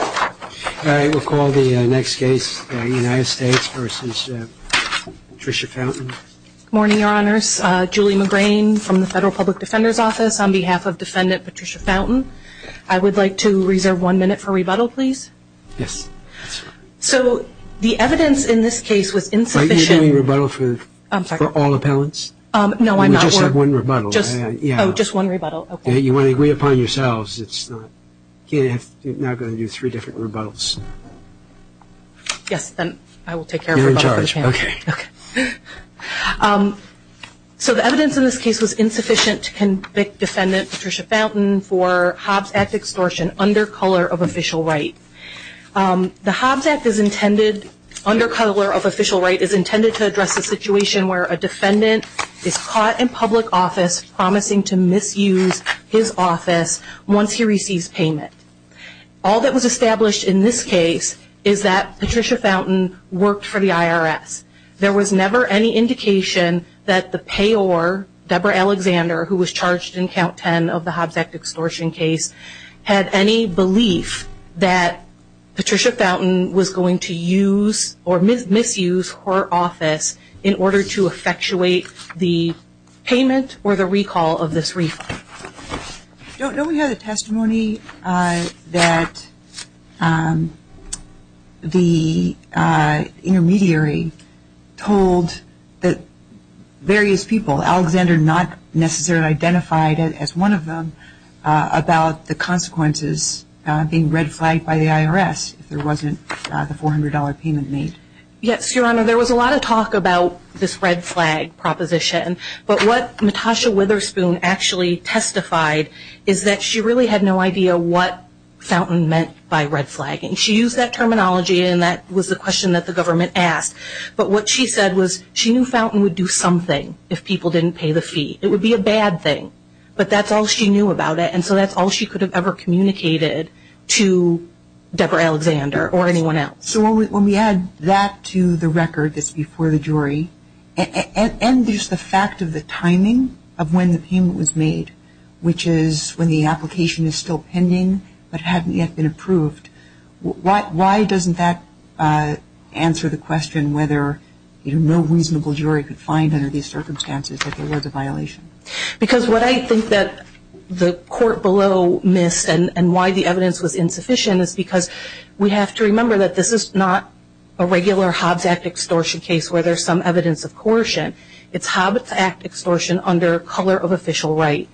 All right, we'll call the next case United States v. Patricia Fountain. Good morning, Your Honors. Julie McGrain from the Federal Public Defender's Office on behalf of Defendant Patricia Fountain. I would like to reserve one minute for rebuttal, please. Yes. So the evidence in this case was insufficient. Are you doing rebuttal for all appellants? No, I'm not. We just have one rebuttal. Oh, just one rebuttal. You want to agree upon yourselves. You're now going to do three different rebuttals. Yes, then I will take care of rebuttal for the panel. You're in charge. Okay. So the evidence in this case was insufficient to convict Defendant Patricia Fountain for Hobbs Act extortion under color of official right. The Hobbs Act is intended, under color of official right, is intended to address a situation where a defendant is caught in public office promising to misuse his office once he receives payment. All that was established in this case is that Patricia Fountain worked for the IRS. There was never any indication that the payor, Deborah Alexander, who was charged in Count 10 of the Hobbs Act extortion case, had any belief that Patricia Fountain was going to use or misuse her office in order to effectuate the payment or the recall of this refund. Don't we have the testimony that the intermediary told the various people, Alexander not necessarily identified as one of them, about the consequences being red flagged by the IRS if there wasn't the $400 payment made? Yes, Your Honor. There was a lot of talk about this red flag proposition. But what Natasha Witherspoon actually testified is that she really had no idea what Fountain meant by red flagging. She used that terminology, and that was the question that the government asked. But what she said was she knew Fountain would do something if people didn't pay the fee. It would be a bad thing. But that's all she knew about it, and so that's all she could have ever communicated to Deborah Alexander or anyone else. So when we add that to the record that's before the jury, and just the fact of the timing of when the payment was made, which is when the application is still pending but hadn't yet been approved, why doesn't that answer the question whether no reasonable jury could find under these circumstances that there was a violation? Because what I think that the court below missed and why the evidence was insufficient is because we have to remember that this is not a regular Hobbs Act extortion case where there's some evidence of coercion. It's Hobbs Act extortion under color of official right.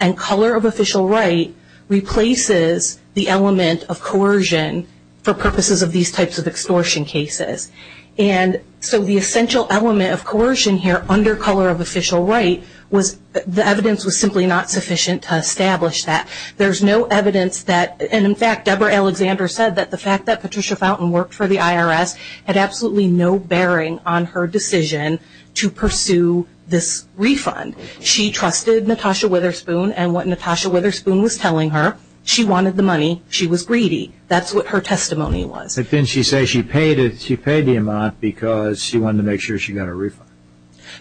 And color of official right replaces the element of coercion for purposes of these types of extortion cases. And so the essential element of coercion here under color of official right, the evidence was simply not sufficient to establish that. There's no evidence that, and in fact Deborah Alexander said that the fact that Patricia Fountain worked for the IRS had absolutely no bearing on her decision to pursue this refund. She trusted Natasha Witherspoon, and what Natasha Witherspoon was telling her, she wanted the money, she was greedy. That's what her testimony was. But then she says she paid the amount because she wanted to make sure she got a refund.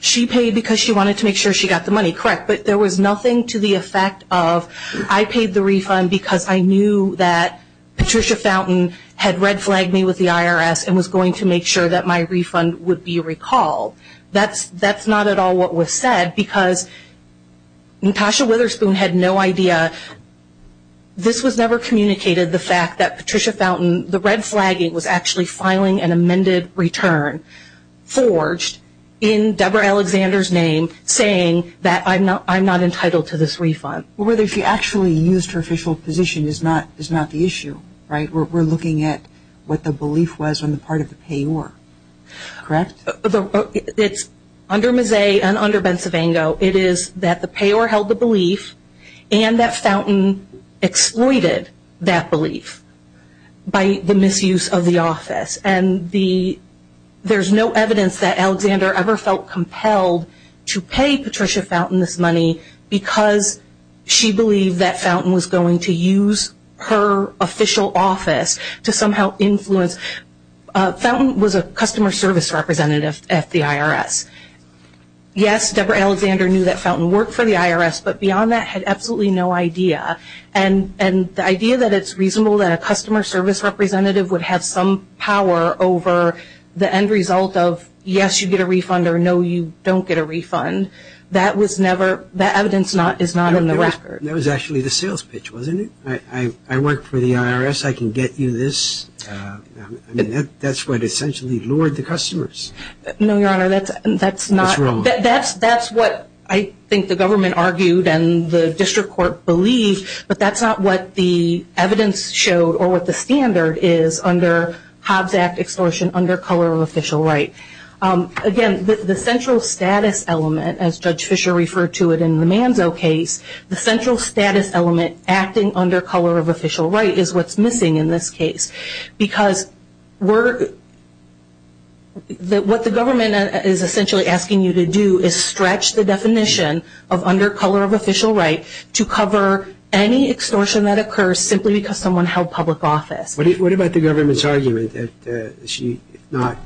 She paid because she wanted to make sure she got the money, correct. But there was nothing to the effect of I paid the refund because I knew that Patricia Fountain had red flagged me with the IRS and was going to make sure that my refund would be recalled. That's not at all what was said because Natasha Witherspoon had no idea. This was never communicated, the fact that Patricia Fountain, the red flagging was actually filing an amended return, forged in Deborah Alexander's name saying that I'm not entitled to this refund. Well, whether she actually used her official position is not the issue, right? We're looking at what the belief was on the part of the payor, correct? It's under Mazzei and under Ben Savango, it is that the payor held the belief and that Fountain exploited that belief by the misuse of the office. There's no evidence that Alexander ever felt compelled to pay Patricia Fountain this money because she believed that Fountain was going to use her official office to somehow influence. Fountain was a customer service representative at the IRS. Yes, Deborah Alexander knew that Fountain worked for the IRS, but beyond that had absolutely no idea. And the idea that it's reasonable that a customer service representative would have some power over the end result of, yes, you get a refund or no, you don't get a refund, that evidence is not in the record. That was actually the sales pitch, wasn't it? I work for the IRS. I can get you this. I mean, that's what essentially lured the customers. No, Your Honor, that's not. That's wrong. That's what I think the government argued and the district court believed, but that's not what the evidence showed or what the standard is under Hobbs Act extortion under color of official right. Again, the central status element, as Judge Fischer referred to it in the Manzo case, the central status element acting under color of official right is what's missing in this case because what the government is essentially asking you to do is stretch the definition of under color of official right to cover any extortion that occurs simply because someone held public office. What about the government's argument that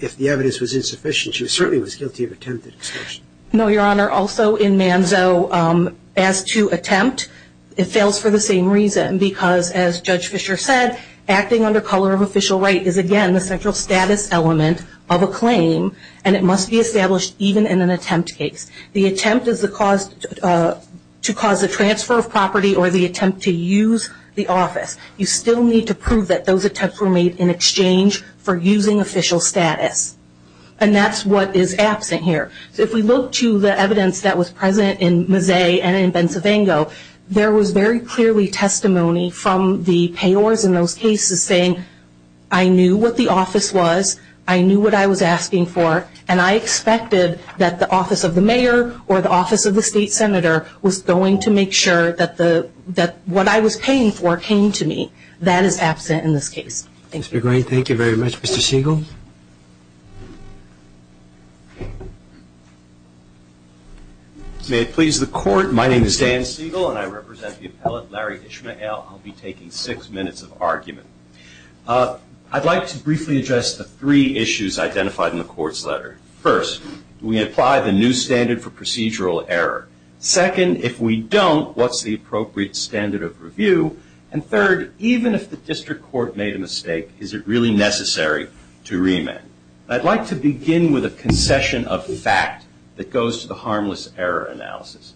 if the evidence was insufficient, she certainly was guilty of attempted extortion? No, Your Honor, also in Manzo, as to attempt, it fails for the same reason because, as Judge Fischer said, acting under color of official right is, again, the central status element of a claim and it must be established even in an attempt case. The attempt is to cause a transfer of property or the attempt to use the office. You still need to prove that those attempts were made in exchange for using official status, and that's what is absent here. If we look to the evidence that was present in Mazzei and in Bensavango, there was very clearly testimony from the payors in those cases saying, I knew what the office was, I knew what I was asking for, and I expected that the office of the mayor or the office of the state senator was going to make sure that what I was paying for came to me. That is absent in this case. Mr. Gray, thank you very much. Mr. Siegel? May it please the Court, my name is Dan Siegel and I represent the appellate Larry Ishmael. I'll be taking six minutes of argument. I'd like to briefly address the three issues identified in the Court's letter. First, do we apply the new standard for procedural error? Second, if we don't, what's the appropriate standard of review? And third, even if the district court made a mistake, is it really necessary to remand? I'd like to begin with a concession of fact that goes to the harmless error analysis.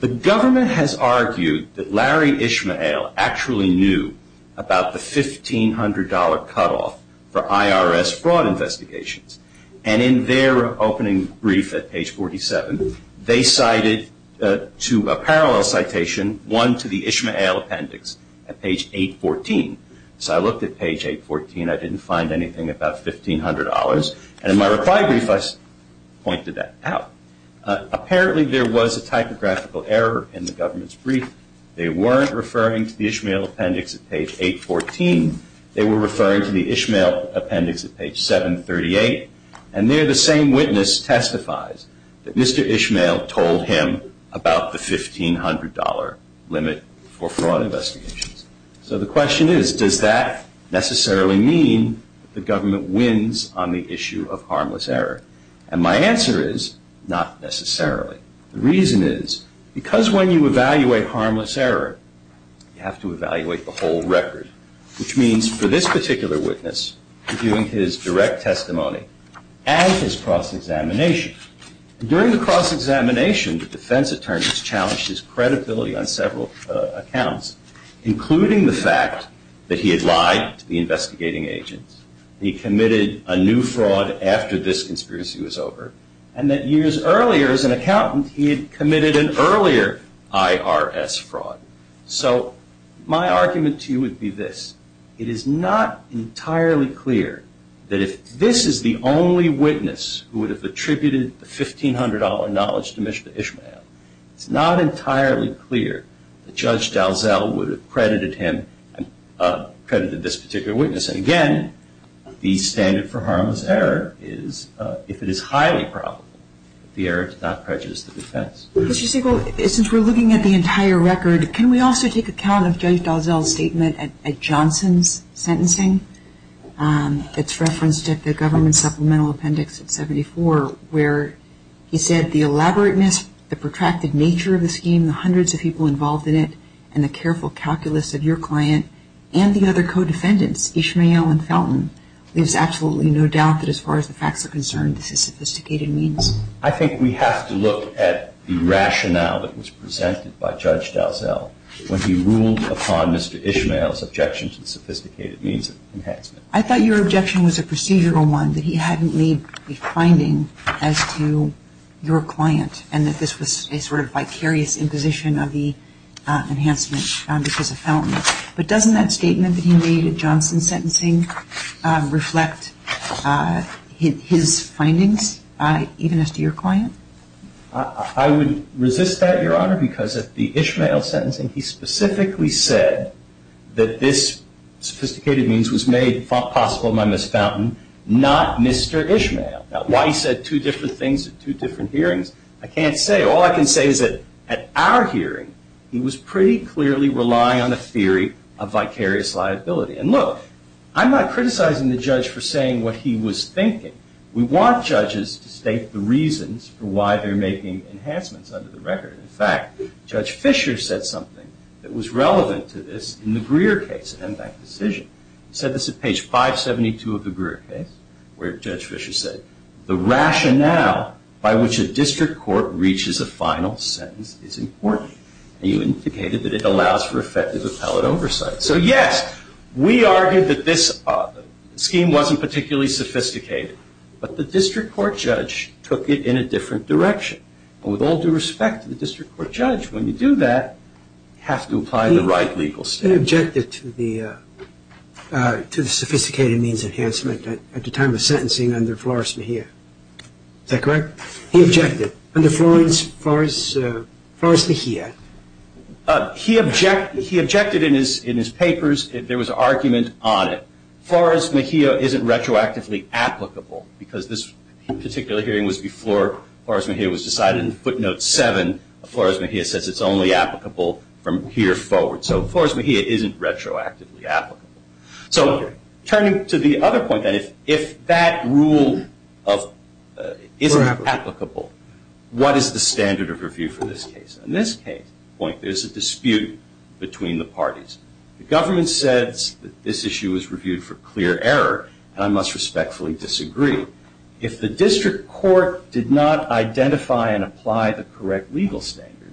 The government has argued that Larry Ishmael actually knew about the $1,500 cutoff for IRS fraud investigations, and in their opening brief at page 47, they cited to a parallel citation one to the Ishmael appendix at page 814. So I looked at page 814. I didn't find anything about $1,500, and in my reply brief I pointed that out. Apparently there was a typographical error in the government's brief. They weren't referring to the Ishmael appendix at page 814. They were referring to the Ishmael appendix at page 738, and there the same witness testifies that Mr. Ishmael told him about the $1,500 limit for fraud investigations. So the question is, does that necessarily mean the government wins on the issue of harmless error? And my answer is, not necessarily. The reason is, because when you evaluate harmless error, you have to evaluate the whole record, which means for this particular witness, reviewing his direct testimony and his cross-examination. During the cross-examination, the defense attorneys challenged his credibility on several accounts, including the fact that he had lied to the investigating agents, he committed a new fraud after this conspiracy was over, and that years earlier, as an accountant, he had committed an earlier IRS fraud. So my argument to you would be this. It is not entirely clear that if this is the only witness who would have attributed the $1,500 knowledge to Mr. Ishmael, it's not entirely clear that Judge Dalzell would have credited him and credited this particular witness. And again, the standard for harmless error is, if it is highly probable, the error does not prejudice the defense. Mr. Siegel, since we're looking at the entire record, can we also take account of Judge Dalzell's statement at Johnson's sentencing? It's referenced at the government supplemental appendix at 74, where he said, the elaborateness, the protracted nature of the scheme, the hundreds of people involved in it, and the careful calculus of your client and the other co-defendants, Ishmael and Felton, leaves absolutely no doubt that as far as the facts are concerned, this is sophisticated means. I think we have to look at the rationale that was presented by Judge Dalzell when he ruled upon Mr. Ishmael's objection to the sophisticated means of enhancement. I thought your objection was a procedural one, that he hadn't made a finding as to your client and that this was a sort of vicarious imposition of the enhancement because of Felton. But doesn't that statement that he made at Johnson's sentencing reflect his findings, even as to your client? I would resist that, Your Honor, because at the Ishmael sentencing, he specifically said that this sophisticated means was made possible by Ms. Felton, not Mr. Ishmael. Now, why he said two different things at two different hearings, I can't say. All I can say is that at our hearing, he was pretty clearly relying on a theory of vicarious liability. And look, I'm not criticizing the judge for saying what he was thinking. We want judges to state the reasons for why they're making enhancements under the record. In fact, Judge Fischer said something that was relevant to this in the Greer case, the M-Bank decision. He said this at page 572 of the Greer case, where Judge Fischer said, the rationale by which a district court reaches a final sentence is important. He indicated that it allows for effective appellate oversight. So, yes, we argued that this scheme wasn't particularly sophisticated, but the district court judge took it in a different direction. And with all due respect to the district court judge, when you do that, you have to apply the right legal standards. He then objected to the sophisticated means enhancement at the time of sentencing under Flores-Mejia. Is that correct? He objected. Under Flores-Mejia? He objected in his papers. There was an argument on it. Flores-Mejia isn't retroactively applicable because this particular hearing was before Flores-Mejia was decided. In footnote 7, Flores-Mejia says it's only applicable from here forward. So Flores-Mejia isn't retroactively applicable. So turning to the other point, then, if that rule isn't applicable, what is the standard of review for this case? In this case, there's a dispute between the parties. The government says that this issue was reviewed for clear error, and I must respectfully disagree. If the district court did not identify and apply the correct legal standard,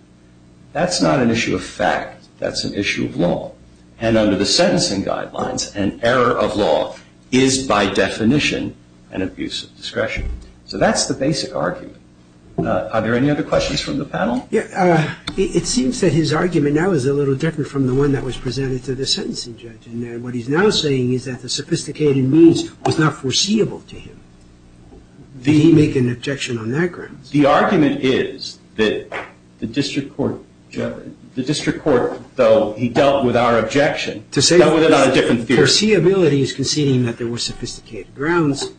that's not an issue of fact. That's an issue of law. And under the sentencing guidelines, an error of law is, by definition, an abuse of discretion. So that's the basic argument. Are there any other questions from the panel? It seems that his argument now is a little different from the one that was presented to the sentencing judge. And what he's now saying is that the sophisticated means was not foreseeable to him. Did he make an objection on that grounds? The argument is that the district court, though he dealt with our objection, dealt with it on a different theory. Foreseeability is conceding that there were sophisticated grounds.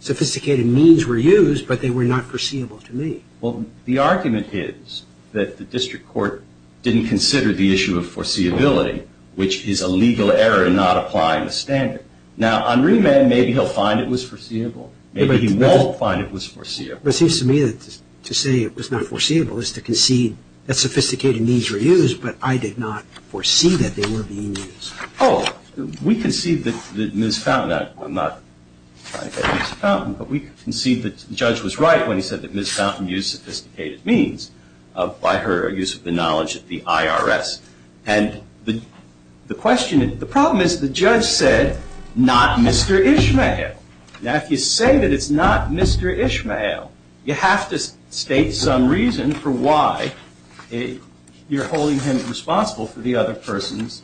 Sophisticated means were used, but they were not foreseeable to me. Well, the argument is that the district court didn't consider the issue of foreseeability, which is a legal error in not applying the standard. Now, on remand, maybe he'll find it was foreseeable. Maybe he won't find it was foreseeable. But it seems to me that to say it was not foreseeable is to concede that sophisticated means were used, but I did not foresee that they were being used. Oh, we concede that Ms. Fountain – I'm not trying to say Ms. Fountain – but we concede that the judge was right when he said that Ms. Fountain used sophisticated means by her use of the knowledge of the IRS. And the question – the problem is the judge said, not Mr. Ishmael. Now, if you say that it's not Mr. Ishmael, you have to state some reason for why you're holding him responsible for the other person's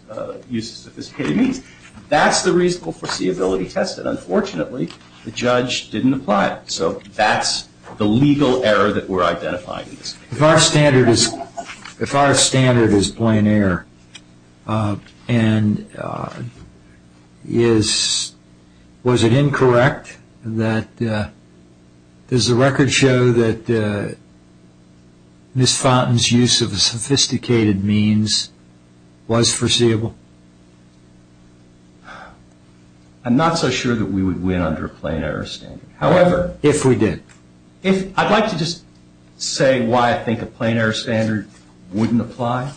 use of sophisticated means. That's the reasonable foreseeability test, and unfortunately, the judge didn't apply it. So that's the legal error that we're identifying in this case. If our standard is – if our standard is plain error and is – was it incorrect that – does the record show that Ms. Fountain's use of sophisticated means was foreseeable? I'm not so sure that we would win under a plain error standard. However – If we did. If – I'd like to just say why I think a plain error standard wouldn't apply.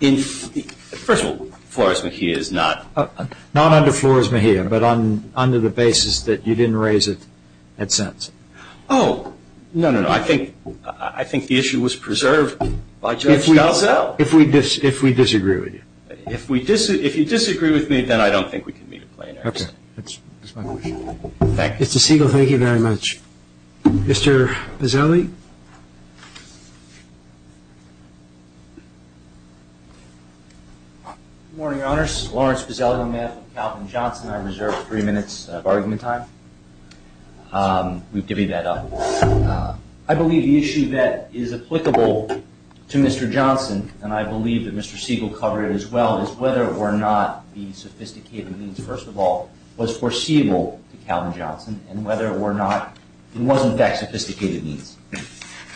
In – first of all, Flores-Mejia is not – Not under Flores-Mejia, but under the basis that you didn't raise it at sense. Oh, no, no, no. I think – I think the issue was preserved by Judge Garzell. If we – if we disagree with you. If we – if you disagree with me, then I don't think we can meet a plain error standard. Okay. That's my question. Thank you. Mr. Siegel, thank you very much. Mr. Bozzelli? Good morning, Your Honors. Lawrence Bozzelli on behalf of Calvin Johnson. I reserve three minutes of argument time. We've divvied that up. I believe the issue that is applicable to Mr. Johnson, and I believe that Mr. Siegel covered it as well, is whether or not the sophisticated means, first of all, was foreseeable to Calvin Johnson, and whether or not it was, in fact, sophisticated means.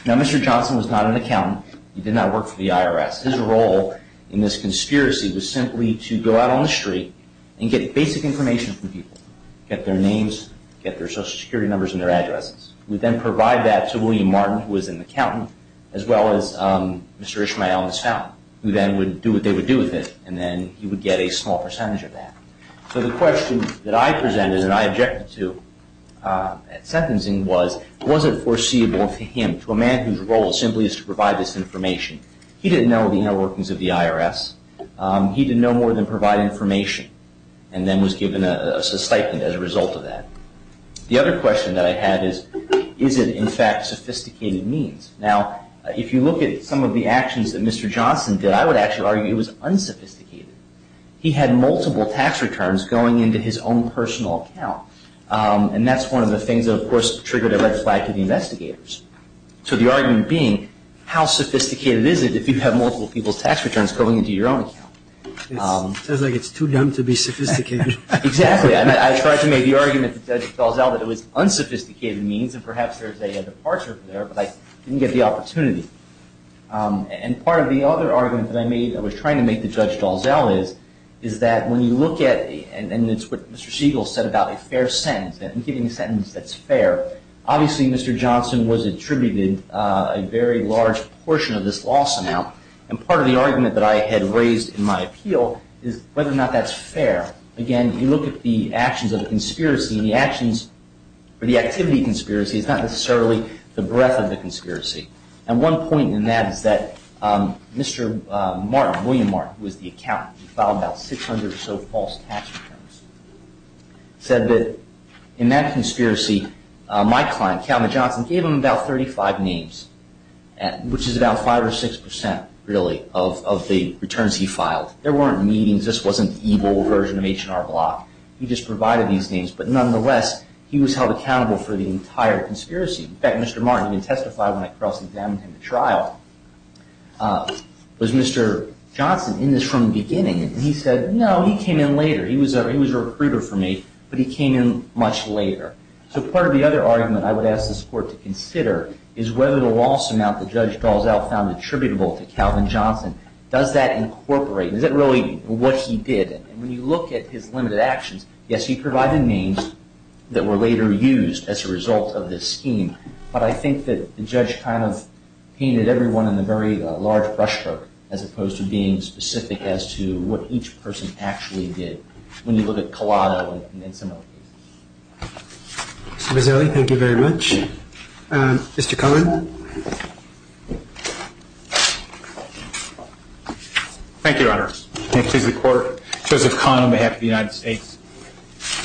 Now, Mr. Johnson was not an accountant. He did not work for the IRS. His role in this conspiracy was simply to go out on the street and get basic information from people, get their names, get their Social Security numbers and their addresses. We then provide that to William Martin, who was an accountant, as well as Mr. Ishmael Misfound, who then would do what they would do with it, and then he would get a small percentage of that. So the question that I presented and I objected to at sentencing was, was it foreseeable to him, to a man whose role simply is to provide this information? He didn't know the inner workings of the IRS. He didn't know more than provide information, and then was given a stipend as a result of that. The other question that I had is, is it, in fact, sophisticated means? Now, if you look at some of the actions that Mr. Johnson did, I would actually argue it was unsophisticated. He had multiple tax returns going into his own personal account, and that's one of the things that, of course, triggered a red flag to the investigators. So the argument being, how sophisticated is it if you have multiple people's tax returns going into your own account? It sounds like it's too dumb to be sophisticated. Exactly. I tried to make the argument to Judge Dalzell that it was unsophisticated means, and perhaps there's a departure there, but I didn't get the opportunity. And part of the other argument that I made, that I was trying to make to Judge Dalzell is, is that when you look at, and it's what Mr. Siegel said about a fair sentence, giving a sentence that's fair, obviously Mr. Johnson was attributed a very large portion of this loss amount, and part of the argument that I had raised in my appeal is whether or not that's fair. Again, you look at the actions of the conspiracy, and the actions, or the activity of the conspiracy, is not necessarily the breadth of the conspiracy. And one point in that is that Mr. Martin, William Martin, who was the accountant, who filed about 600 or so false tax returns, said that in that conspiracy, my client, Calvin Johnson, gave him about 35 names, which is about 5 or 6 percent, really, of the returns he filed. There weren't meetings. This wasn't the evil version of H&R Block. He just provided these names, but nonetheless, he was held accountable for the entire conspiracy. In fact, Mr. Martin even testified when I cross-examined him at trial. Was Mr. Johnson in this from the beginning? And he said, no, he came in later. He was a recruiter for me, but he came in much later. So part of the other argument I would ask this Court to consider is whether the loss amount that Judge Dalzell found attributable to Calvin Johnson, does that incorporate? Is it really what he did? And when you look at his limited actions, yes, he provided names that were later used as a result of this scheme, but I think that the judge kind of painted everyone in a very large brushstroke, as opposed to being specific as to what each person actually did. When you look at Collado and similar cases. Mr. Bozzelli, thank you very much. Mr. Cullen? Thank you, Your Honor. And it pleases the Court. Joseph Cullen on behalf of the United States.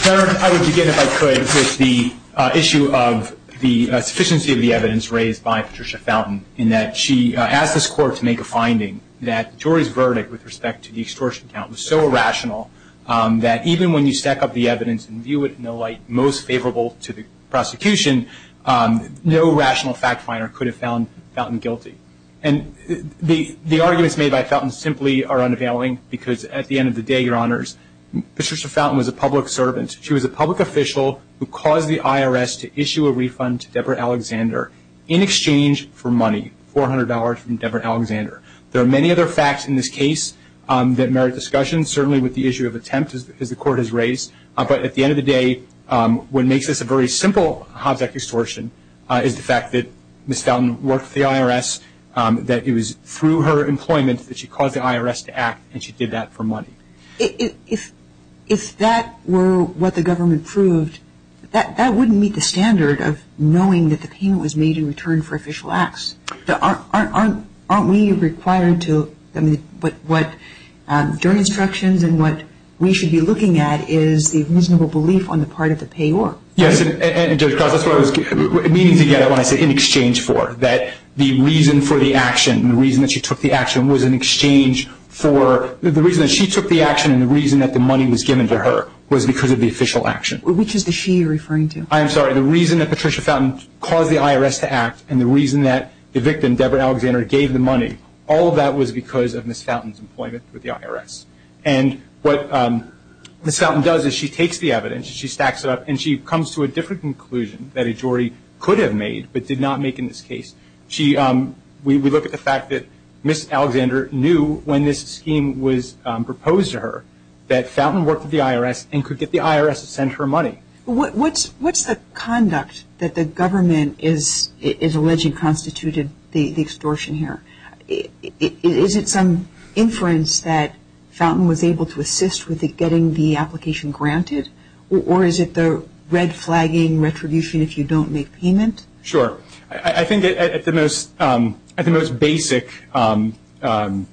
Your Honor, I would begin, if I could, with the issue of the sufficiency of the evidence raised by Patricia Fountain, in that she asked this Court to make a finding that the jury's verdict with respect to the extortion count was so irrational that even when you stack up the evidence and view it in the light most favorable to the prosecution, no rational fact finder could have found Fountain guilty. And the arguments made by Fountain simply are unavailing, because at the end of the day, Your Honors, Patricia Fountain was a public servant. She was a public official who caused the IRS to issue a refund to Deborah Alexander in exchange for money, $400 from Deborah Alexander. There are many other facts in this case that merit discussion, certainly with the issue of attempt, as the Court has raised. But at the end of the day, what makes this a very simple Hobbs Act extortion is the fact that Ms. Fountain worked for the IRS, that it was through her employment that she caused the IRS to act, and she did that for money. If that were what the government proved, that wouldn't meet the standard of knowing that the payment was made in return for official acts. Aren't we required to, I mean, what jury instructions and what we should be looking at is the reasonable belief on the part of the payor. Yes, and Judge Cross, that's what I was meaning to get at when I said in exchange for, that the reason for the action, the reason that she took the action was in exchange for, the reason that she took the action and the reason that the money was given to her was because of the official action. Which is the she you're referring to? I am sorry. The reason that Patricia Fountain caused the IRS to act and the reason that the victim, Deborah Alexander, gave the money, all of that was because of Ms. Fountain's employment with the IRS. And what Ms. Fountain does is she takes the evidence, she stacks it up, and she comes to a different conclusion that a jury could have made but did not make in this case. We look at the fact that Ms. Alexander knew when this scheme was proposed to her that Fountain worked with the IRS and could get the IRS to send her money. What's the conduct that the government is alleging constituted the extortion here? Is it some inference that Fountain was able to assist with getting the application granted? Or is it the red flagging, retribution if you don't make payment? Sure. I think at the most basic organization,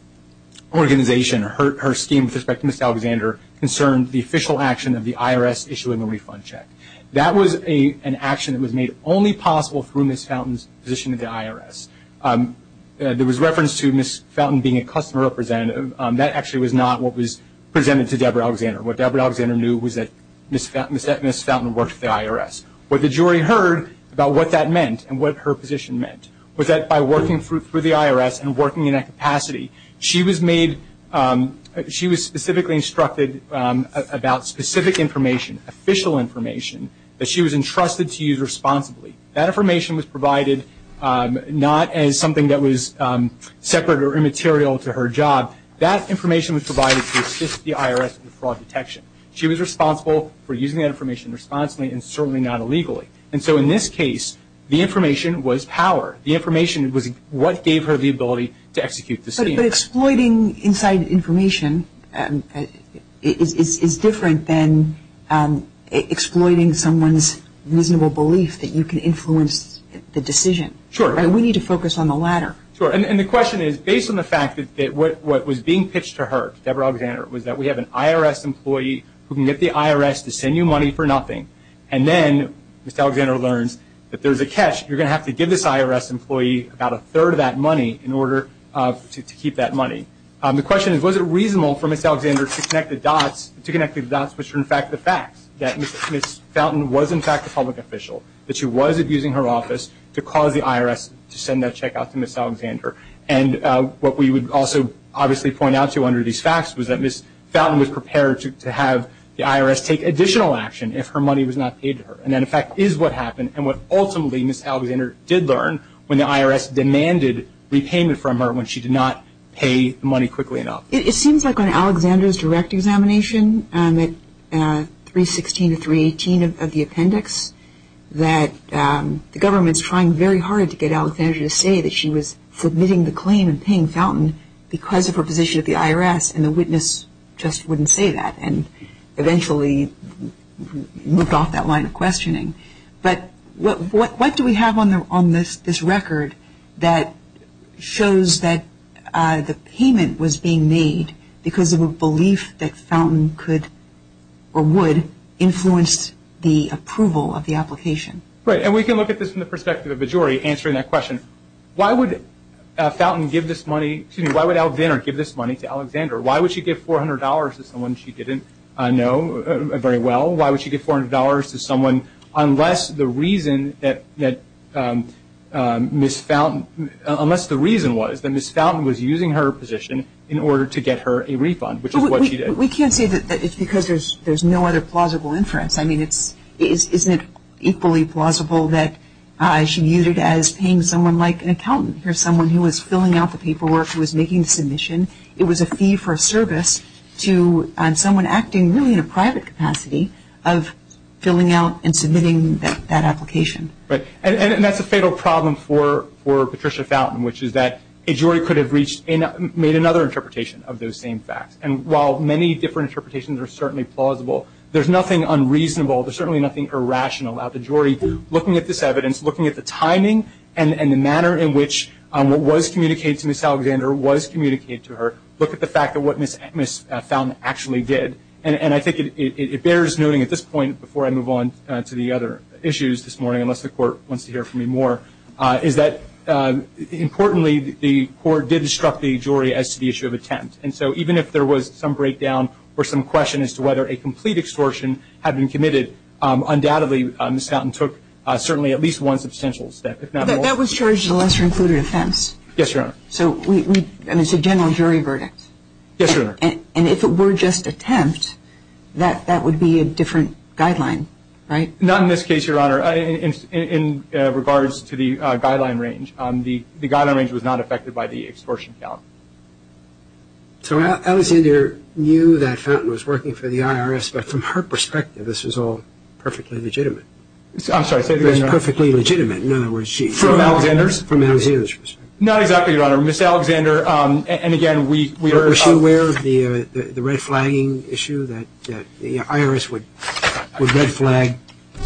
her scheme with respect to Ms. Alexander, concerned the official action of the IRS issuing a refund check. That was an action that was made only possible through Ms. Fountain's position at the IRS. There was reference to Ms. Fountain being a customer representative. That actually was not what was presented to Deborah Alexander. What Deborah Alexander knew was that Ms. Fountain worked for the IRS. What the jury heard about what that meant and what her position meant was that by working for the IRS and working in that capacity, she was specifically instructed about specific information, official information, that she was entrusted to use responsibly. That information was provided not as something that was separate or immaterial to her job. That information was provided to assist the IRS in the fraud detection. She was responsible for using that information responsibly and certainly not illegally. In this case, the information was power. The information was what gave her the ability to execute the scheme. But exploiting inside information is different than exploiting someone's miserable belief that you can influence the decision. Sure. We need to focus on the latter. Sure. The question is, based on the fact that what was being pitched to her, Deborah Alexander, was that we have an IRS employee who can get the IRS to send you money for nothing. And then Ms. Alexander learns that there's a catch. You're going to have to give this IRS employee about a third of that money in order to keep that money. The question is, was it reasonable for Ms. Alexander to connect the dots, which are in fact the facts, that Ms. Fountain was in fact a public official, that she was abusing her office to cause the IRS to send that check out to Ms. Alexander. And what we would also obviously point out, too, under these facts, was that Ms. Fountain was prepared to have the IRS take additional action if her money was not paid to her. And that, in fact, is what happened and what ultimately Ms. Alexander did learn when the IRS demanded repayment from her when she did not pay the money quickly enough. It seems like on Alexander's direct examination, 316 to 318 of the appendix, that the government's trying very hard to get Alexander to say that she was submitting the claim and paying Fountain because of her position at the IRS, and the witness just wouldn't say that and eventually moved off that line of questioning. But what do we have on this record that shows that the payment was being made because of a belief that Fountain could or would influence the approval of the application? Right, and we can look at this from the perspective of a jury answering that question. Why would Fountain give this money, excuse me, why would Alvinner give this money to Alexander? Why would she give $400 to someone she didn't know very well? Why would she give $400 to someone unless the reason that Ms. Fountain, unless the reason was that Ms. Fountain was using her position in order to get her a refund, which is what she did. We can't say that it's because there's no other plausible inference. I mean, isn't it equally plausible that she used it as paying someone like an accountant or someone who was filling out the paperwork, who was making the submission. It was a fee for service to someone acting really in a private capacity of filling out and submitting that application. And that's a fatal problem for Patricia Fountain, which is that a jury could have made another interpretation of those same facts. And while many different interpretations are certainly plausible, there's nothing unreasonable, there's certainly nothing irrational about the jury looking at this evidence, looking at the timing and the manner in which what was communicated to Ms. Alexander was communicated to her. Look at the fact of what Ms. Fountain actually did. And I think it bears noting at this point, before I move on to the other issues this morning, unless the Court wants to hear from me more, is that, importantly, the Court did instruct the jury as to the issue of attempt. And so even if there was some breakdown or some question as to whether a complete extortion had been committed, undoubtedly Ms. Fountain took certainly at least one substantial step, if not more. That was charged as a lesser-included offense. Yes, Your Honor. And it's a general jury verdict. Yes, Your Honor. And if it were just attempt, that would be a different guideline, right? Not in this case, Your Honor, in regards to the guideline range. The guideline range was not affected by the extortion count. So Alexander knew that Fountain was working for the IRS, but from her perspective this was all perfectly legitimate. I'm sorry, say that again, Your Honor. It was perfectly legitimate. In other words, from Alexander's perspective. Not exactly, Your Honor. Ms. Alexander, and again, we are aware of the red flagging issue, that the IRS would red flag.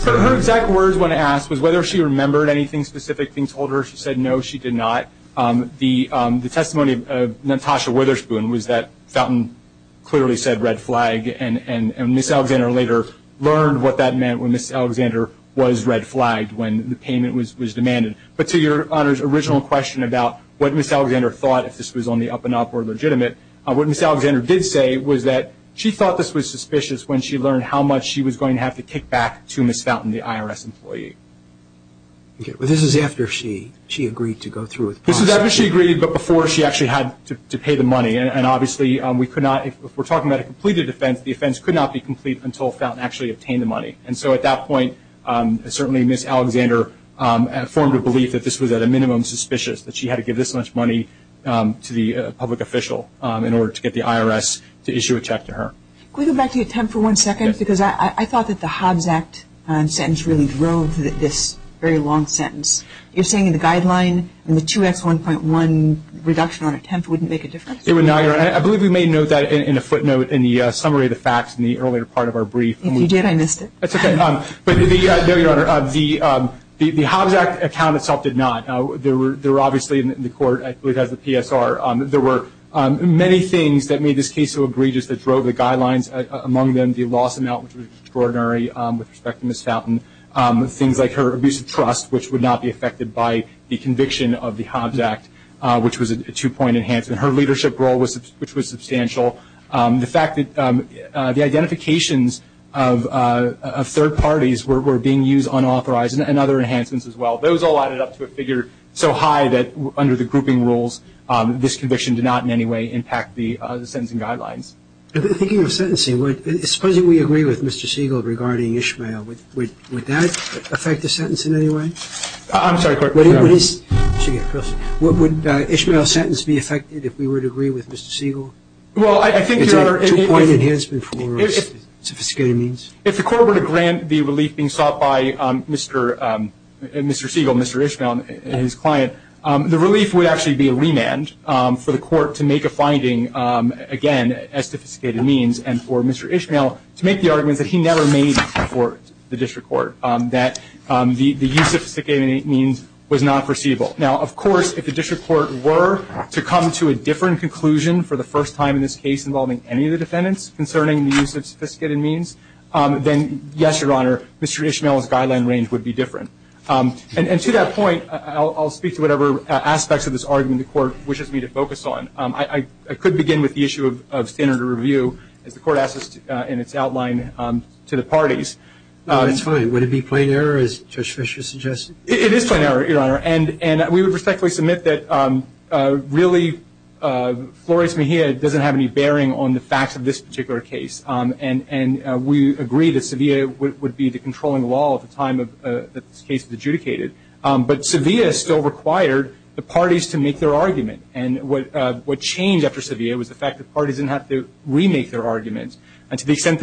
Her exact words when asked was whether she remembered anything specific being told her. She said no, she did not. The testimony of Natasha Witherspoon was that Fountain clearly said red flag, and Ms. Alexander later learned what that meant when Ms. Alexander was red flagged when the payment was demanded. But to Your Honor's original question about what Ms. Alexander thought, if this was on the up and up or legitimate, what Ms. Alexander did say was that she thought this was suspicious when she learned how much she was going to have to kick back to Ms. Fountain, the IRS employee. Okay, but this is after she agreed to go through with processing. This is after she agreed, but before she actually had to pay the money. And obviously we could not, if we're talking about a completed offense, the offense could not be complete until Fountain actually obtained the money. And so at that point certainly Ms. Alexander formed a belief that this was at a minimum suspicious, that she had to give this much money to the public official in order to get the IRS to issue a check to her. Can we go back to the attempt for one second? Because I thought that the Hobbs Act sentence really drove this very long sentence. You're saying the guideline and the 2X1.1 reduction on attempt wouldn't make a difference? It would not, Your Honor. I believe we made note of that in a footnote in the summary of the facts in the earlier part of our brief. If you did, I missed it. That's okay. But the Hobbs Act account itself did not. There were obviously in the court, I believe as the PSR, there were many things that made this case so egregious that drove the guidelines, among them the loss amount, which was extraordinary with respect to Ms. Fountain. Things like her abuse of trust, which would not be affected by the conviction of the Hobbs Act, which was a two-point enhancement. Her leadership role, which was substantial. The fact that the identifications of third parties were being used unauthorized, and other enhancements as well. Those all added up to a figure so high that under the grouping rules, this conviction did not in any way impact the sentencing guidelines. Speaking of sentencing, supposing we agree with Mr. Siegel regarding Ishmael. Would that affect the sentence in any way? I'm sorry, Court. Would Ishmael's sentence be affected if we were to agree with Mr. Siegel? It's a two-point enhancement for sophisticated means. If the court were to grant the relief being sought by Mr. Siegel and Mr. Ishmael and his client, the relief would actually be a remand for the court to make a finding, again, as sophisticated means, and for Mr. Ishmael to make the arguments that he never made before the district court, that the use of sophisticated means was not foreseeable. Now, of course, if the district court were to come to a different conclusion for the first time in this case involving any of the defendants concerning the use of sophisticated means, then, yes, Your Honor, Mr. Ishmael's guideline range would be different. And to that point, I'll speak to whatever aspects of this argument the court wishes me to focus on. I could begin with the issue of standard of review, as the court asked us in its outline to the parties. That's fine. Would it be plain error, as Judge Fischer suggested? It is plain error, Your Honor. And we would respectfully submit that really Flores Mejia doesn't have any bearing on the facts of this particular case, and we agree that Sevilla would be the controlling law at the time that this case was adjudicated. But Sevilla still required the parties to make their argument, and what changed after Sevilla was the fact that parties didn't have to remake their arguments, and to the extent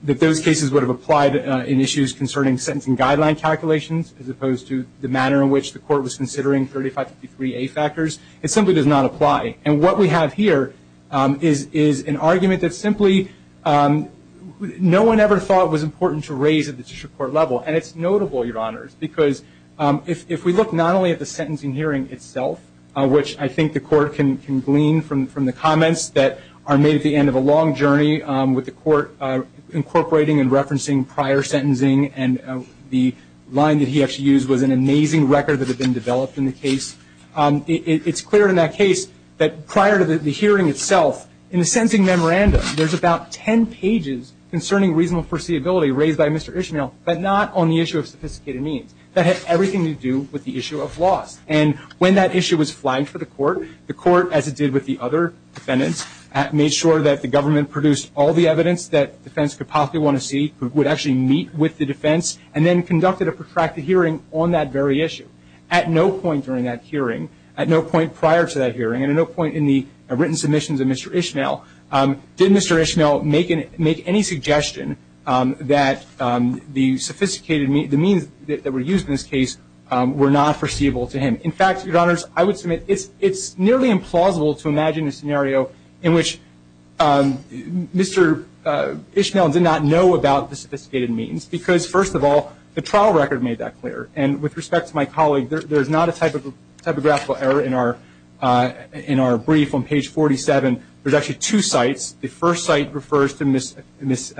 that those cases would have applied in issues concerning sentencing guideline calculations as opposed to the manner in which the court was considering 3553A factors, it simply does not apply. And what we have here is an argument that simply no one ever thought was important to raise at the district court level, and it's notable, Your Honors, because if we look not only at the sentencing hearing itself, which I think the court can glean from the comments that are made at the end of a long journey, with the court incorporating and referencing prior sentencing and the line that he actually used was an amazing record that had been developed in the case, it's clear in that case that prior to the hearing itself, in the sentencing memorandum, there's about 10 pages concerning reasonable foreseeability raised by Mr. Ishmael, but not on the issue of sophisticated means. That had everything to do with the issue of loss, and when that issue was flagged for the court, the court, as it did with the other defendants, made sure that the government produced all the evidence that defendants could possibly want to see, would actually meet with the defense, and then conducted a protracted hearing on that very issue. At no point during that hearing, at no point prior to that hearing, and at no point in the written submissions of Mr. Ishmael, did Mr. Ishmael make any suggestion that the sophisticated means that were used in this case were not foreseeable to him. In fact, Your Honors, I would submit it's nearly implausible to imagine a scenario in which Mr. Ishmael did not know about the sophisticated means because, first of all, the trial record made that clear, and with respect to my colleague, there's not a typographical error in our brief on page 47. There's actually two sites. The first site refers to Ms.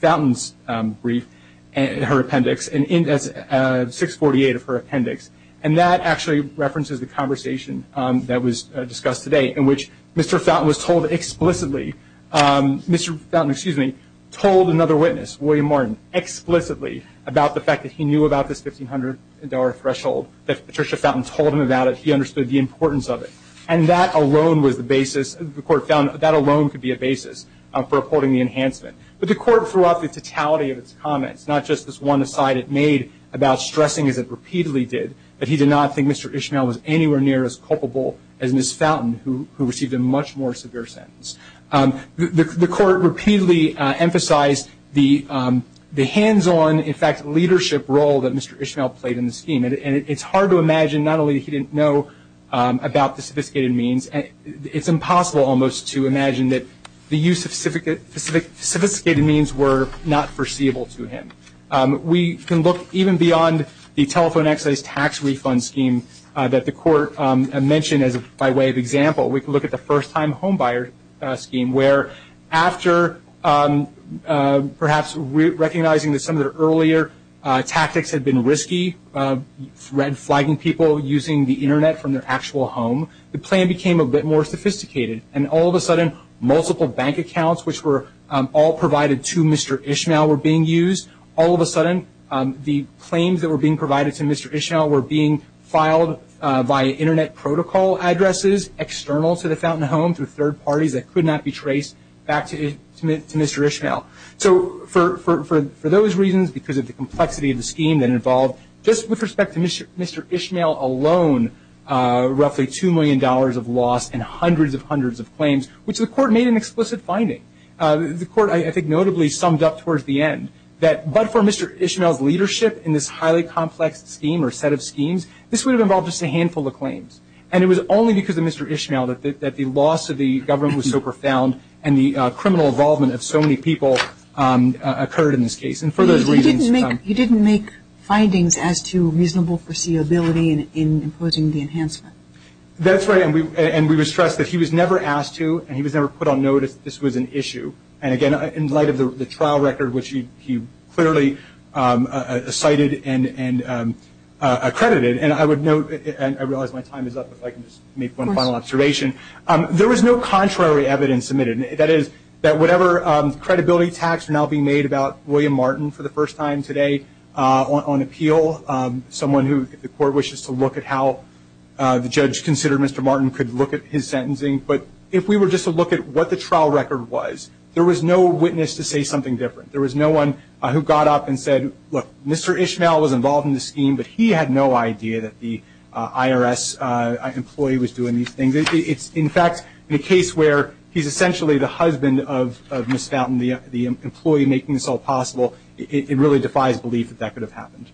Fountain's brief, her appendix, and that's 648 of her appendix, and that actually references the conversation that was discussed today, in which Mr. Fountain was told explicitly, Mr. Fountain, excuse me, told another witness, William Martin, explicitly about the fact that he knew about this $1,500 threshold, that Patricia Fountain told him about it, he understood the importance of it, and that alone was the basis, the court found that alone could be a basis for reporting the enhancement. But the court threw out the totality of its comments, not just this one aside it made about stressing, as it repeatedly did, that he did not think Mr. Ishmael was anywhere near as culpable as Ms. Fountain, who received a much more severe sentence. The court repeatedly emphasized the hands-on, in fact, leadership role that Mr. Ishmael played in the scheme, and it's hard to imagine not only that he didn't know about the sophisticated means, it's impossible almost to imagine that the use of sophisticated means were not foreseeable to him. We can look even beyond the telephone access tax refund scheme that the court mentioned by way of example. We can look at the first-time homebuyer scheme, where after perhaps recognizing that some of the earlier tactics had been risky, flagging people using the Internet from their actual home, the plan became a bit more sophisticated, and all of a sudden multiple bank accounts, which were all provided to Mr. Ishmael, were being used. All of a sudden the claims that were being provided to Mr. Ishmael were being filed via Internet protocol addresses, external to the Fountain Home through third parties that could not be traced back to Mr. Ishmael. So for those reasons, because of the complexity of the scheme that involved, just with respect to Mr. Ishmael alone, roughly $2 million of loss and hundreds of hundreds of claims, which the court made an explicit finding, the court I think notably summed up towards the end, that but for Mr. Ishmael's leadership in this highly complex scheme or set of schemes, this would have involved just a handful of claims. And it was only because of Mr. Ishmael that the loss of the government was so profound and the criminal involvement of so many people occurred in this case. And for those reasons You didn't make findings as to reasonable foreseeability in imposing the enhancement. That's right. And we would stress that he was never asked to and he was never put on notice that this was an issue. And again, in light of the trial record, which he clearly cited and accredited, and I would note, and I realize my time is up, if I can just make one final observation, there was no contrary evidence submitted. That is, that whatever credibility tacks are now being made about William Martin for the first time today on appeal, someone who the court wishes to look at how the judge considered Mr. Martin could look at his sentencing. But if we were just to look at what the trial record was, there was no witness to say something different. There was no one who got up and said, look, Mr. Ishmael was involved in this scheme, but he had no idea that the IRS employee was doing these things. In fact, in a case where he's essentially the husband of Ms. Fountain, the employee making this all possible, it really defies belief that that could have happened.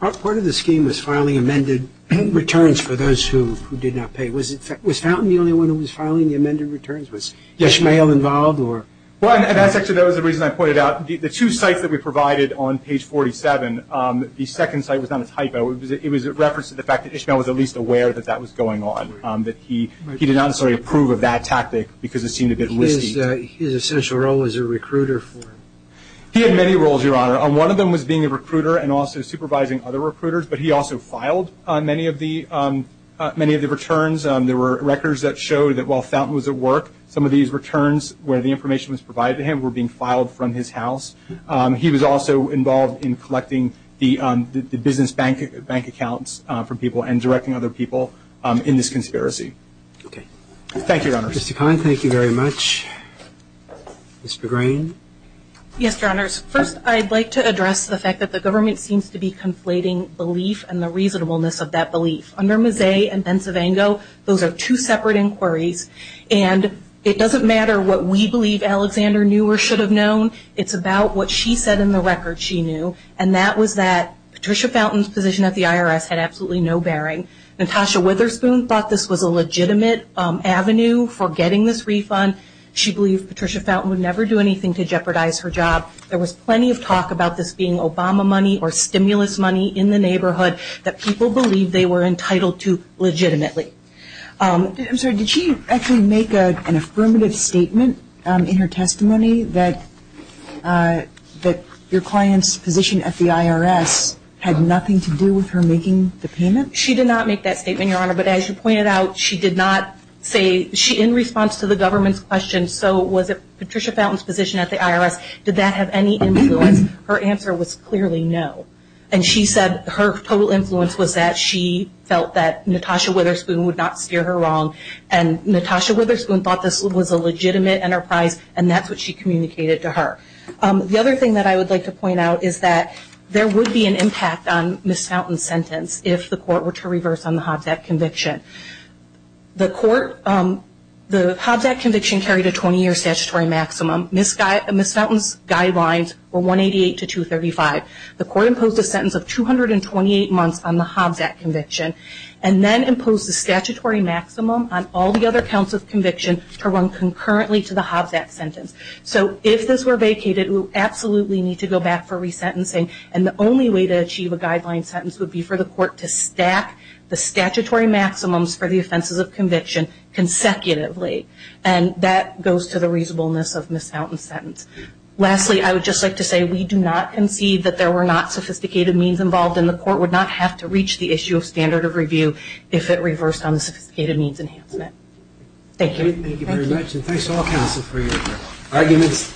Part of the scheme was filing amended returns for those who did not pay. Was Fountain the only one who was filing the amended returns? Was Ishmael involved? Well, that's actually the reason I pointed out. The two sites that we provided on page 47, the second site was not a typo. It was a reference to the fact that Ishmael was at least aware that that was going on, that he did not necessarily approve of that tactic because it seemed a bit wisty. But his essential role was a recruiter for him. He had many roles, Your Honor. One of them was being a recruiter and also supervising other recruiters, but he also filed many of the returns. There were records that showed that while Fountain was at work, some of these returns where the information was provided to him were being filed from his house. He was also involved in collecting the business bank accounts from people and directing other people in this conspiracy. Thank you, Your Honors. Mr. Kahn, thank you very much. Ms. McGrain. Yes, Your Honors. First, I'd like to address the fact that the government seems to be conflating belief and the reasonableness of that belief. Under Mazzei and Benzevango, those are two separate inquiries, and it doesn't matter what we believe Alexander knew or should have known. It's about what she said in the record she knew, and that was that Patricia Fountain's position at the IRS had absolutely no bearing. Natasha Witherspoon thought this was a legitimate avenue for getting this refund. She believed Patricia Fountain would never do anything to jeopardize her job. There was plenty of talk about this being Obama money or stimulus money in the neighborhood I'm sorry. Did she actually make an affirmative statement in her testimony that your client's position at the IRS had nothing to do with her making the payment? She did not make that statement, Your Honor, but as you pointed out, she did not say in response to the government's question, so was it Patricia Fountain's position at the IRS, did that have any influence? Her answer was clearly no. And she said her total influence was that she felt that Natasha Witherspoon would not steer her wrong, and Natasha Witherspoon thought this was a legitimate enterprise, and that's what she communicated to her. The other thing that I would like to point out is that there would be an impact on Ms. Fountain's sentence if the court were to reverse on the Hobbs Act conviction. The Hobbs Act conviction carried a 20-year statutory maximum. Ms. Fountain's guidelines were 188 to 235. The court imposed a sentence of 228 months on the Hobbs Act conviction and then imposed a statutory maximum on all the other counts of conviction to run concurrently to the Hobbs Act sentence. So if this were vacated, we would absolutely need to go back for resentencing, and the only way to achieve a guideline sentence would be for the court to stack the statutory maximums for the offenses of conviction consecutively, and that goes to the reasonableness of Ms. Fountain's sentence. Lastly, I would just like to say we do not concede that there were not sophisticated means involved, and the court would not have to reach the issue of standard of review if it reversed on the sophisticated means enhancement. Thank you. Thank you very much, and thanks to all counsel for your arguments.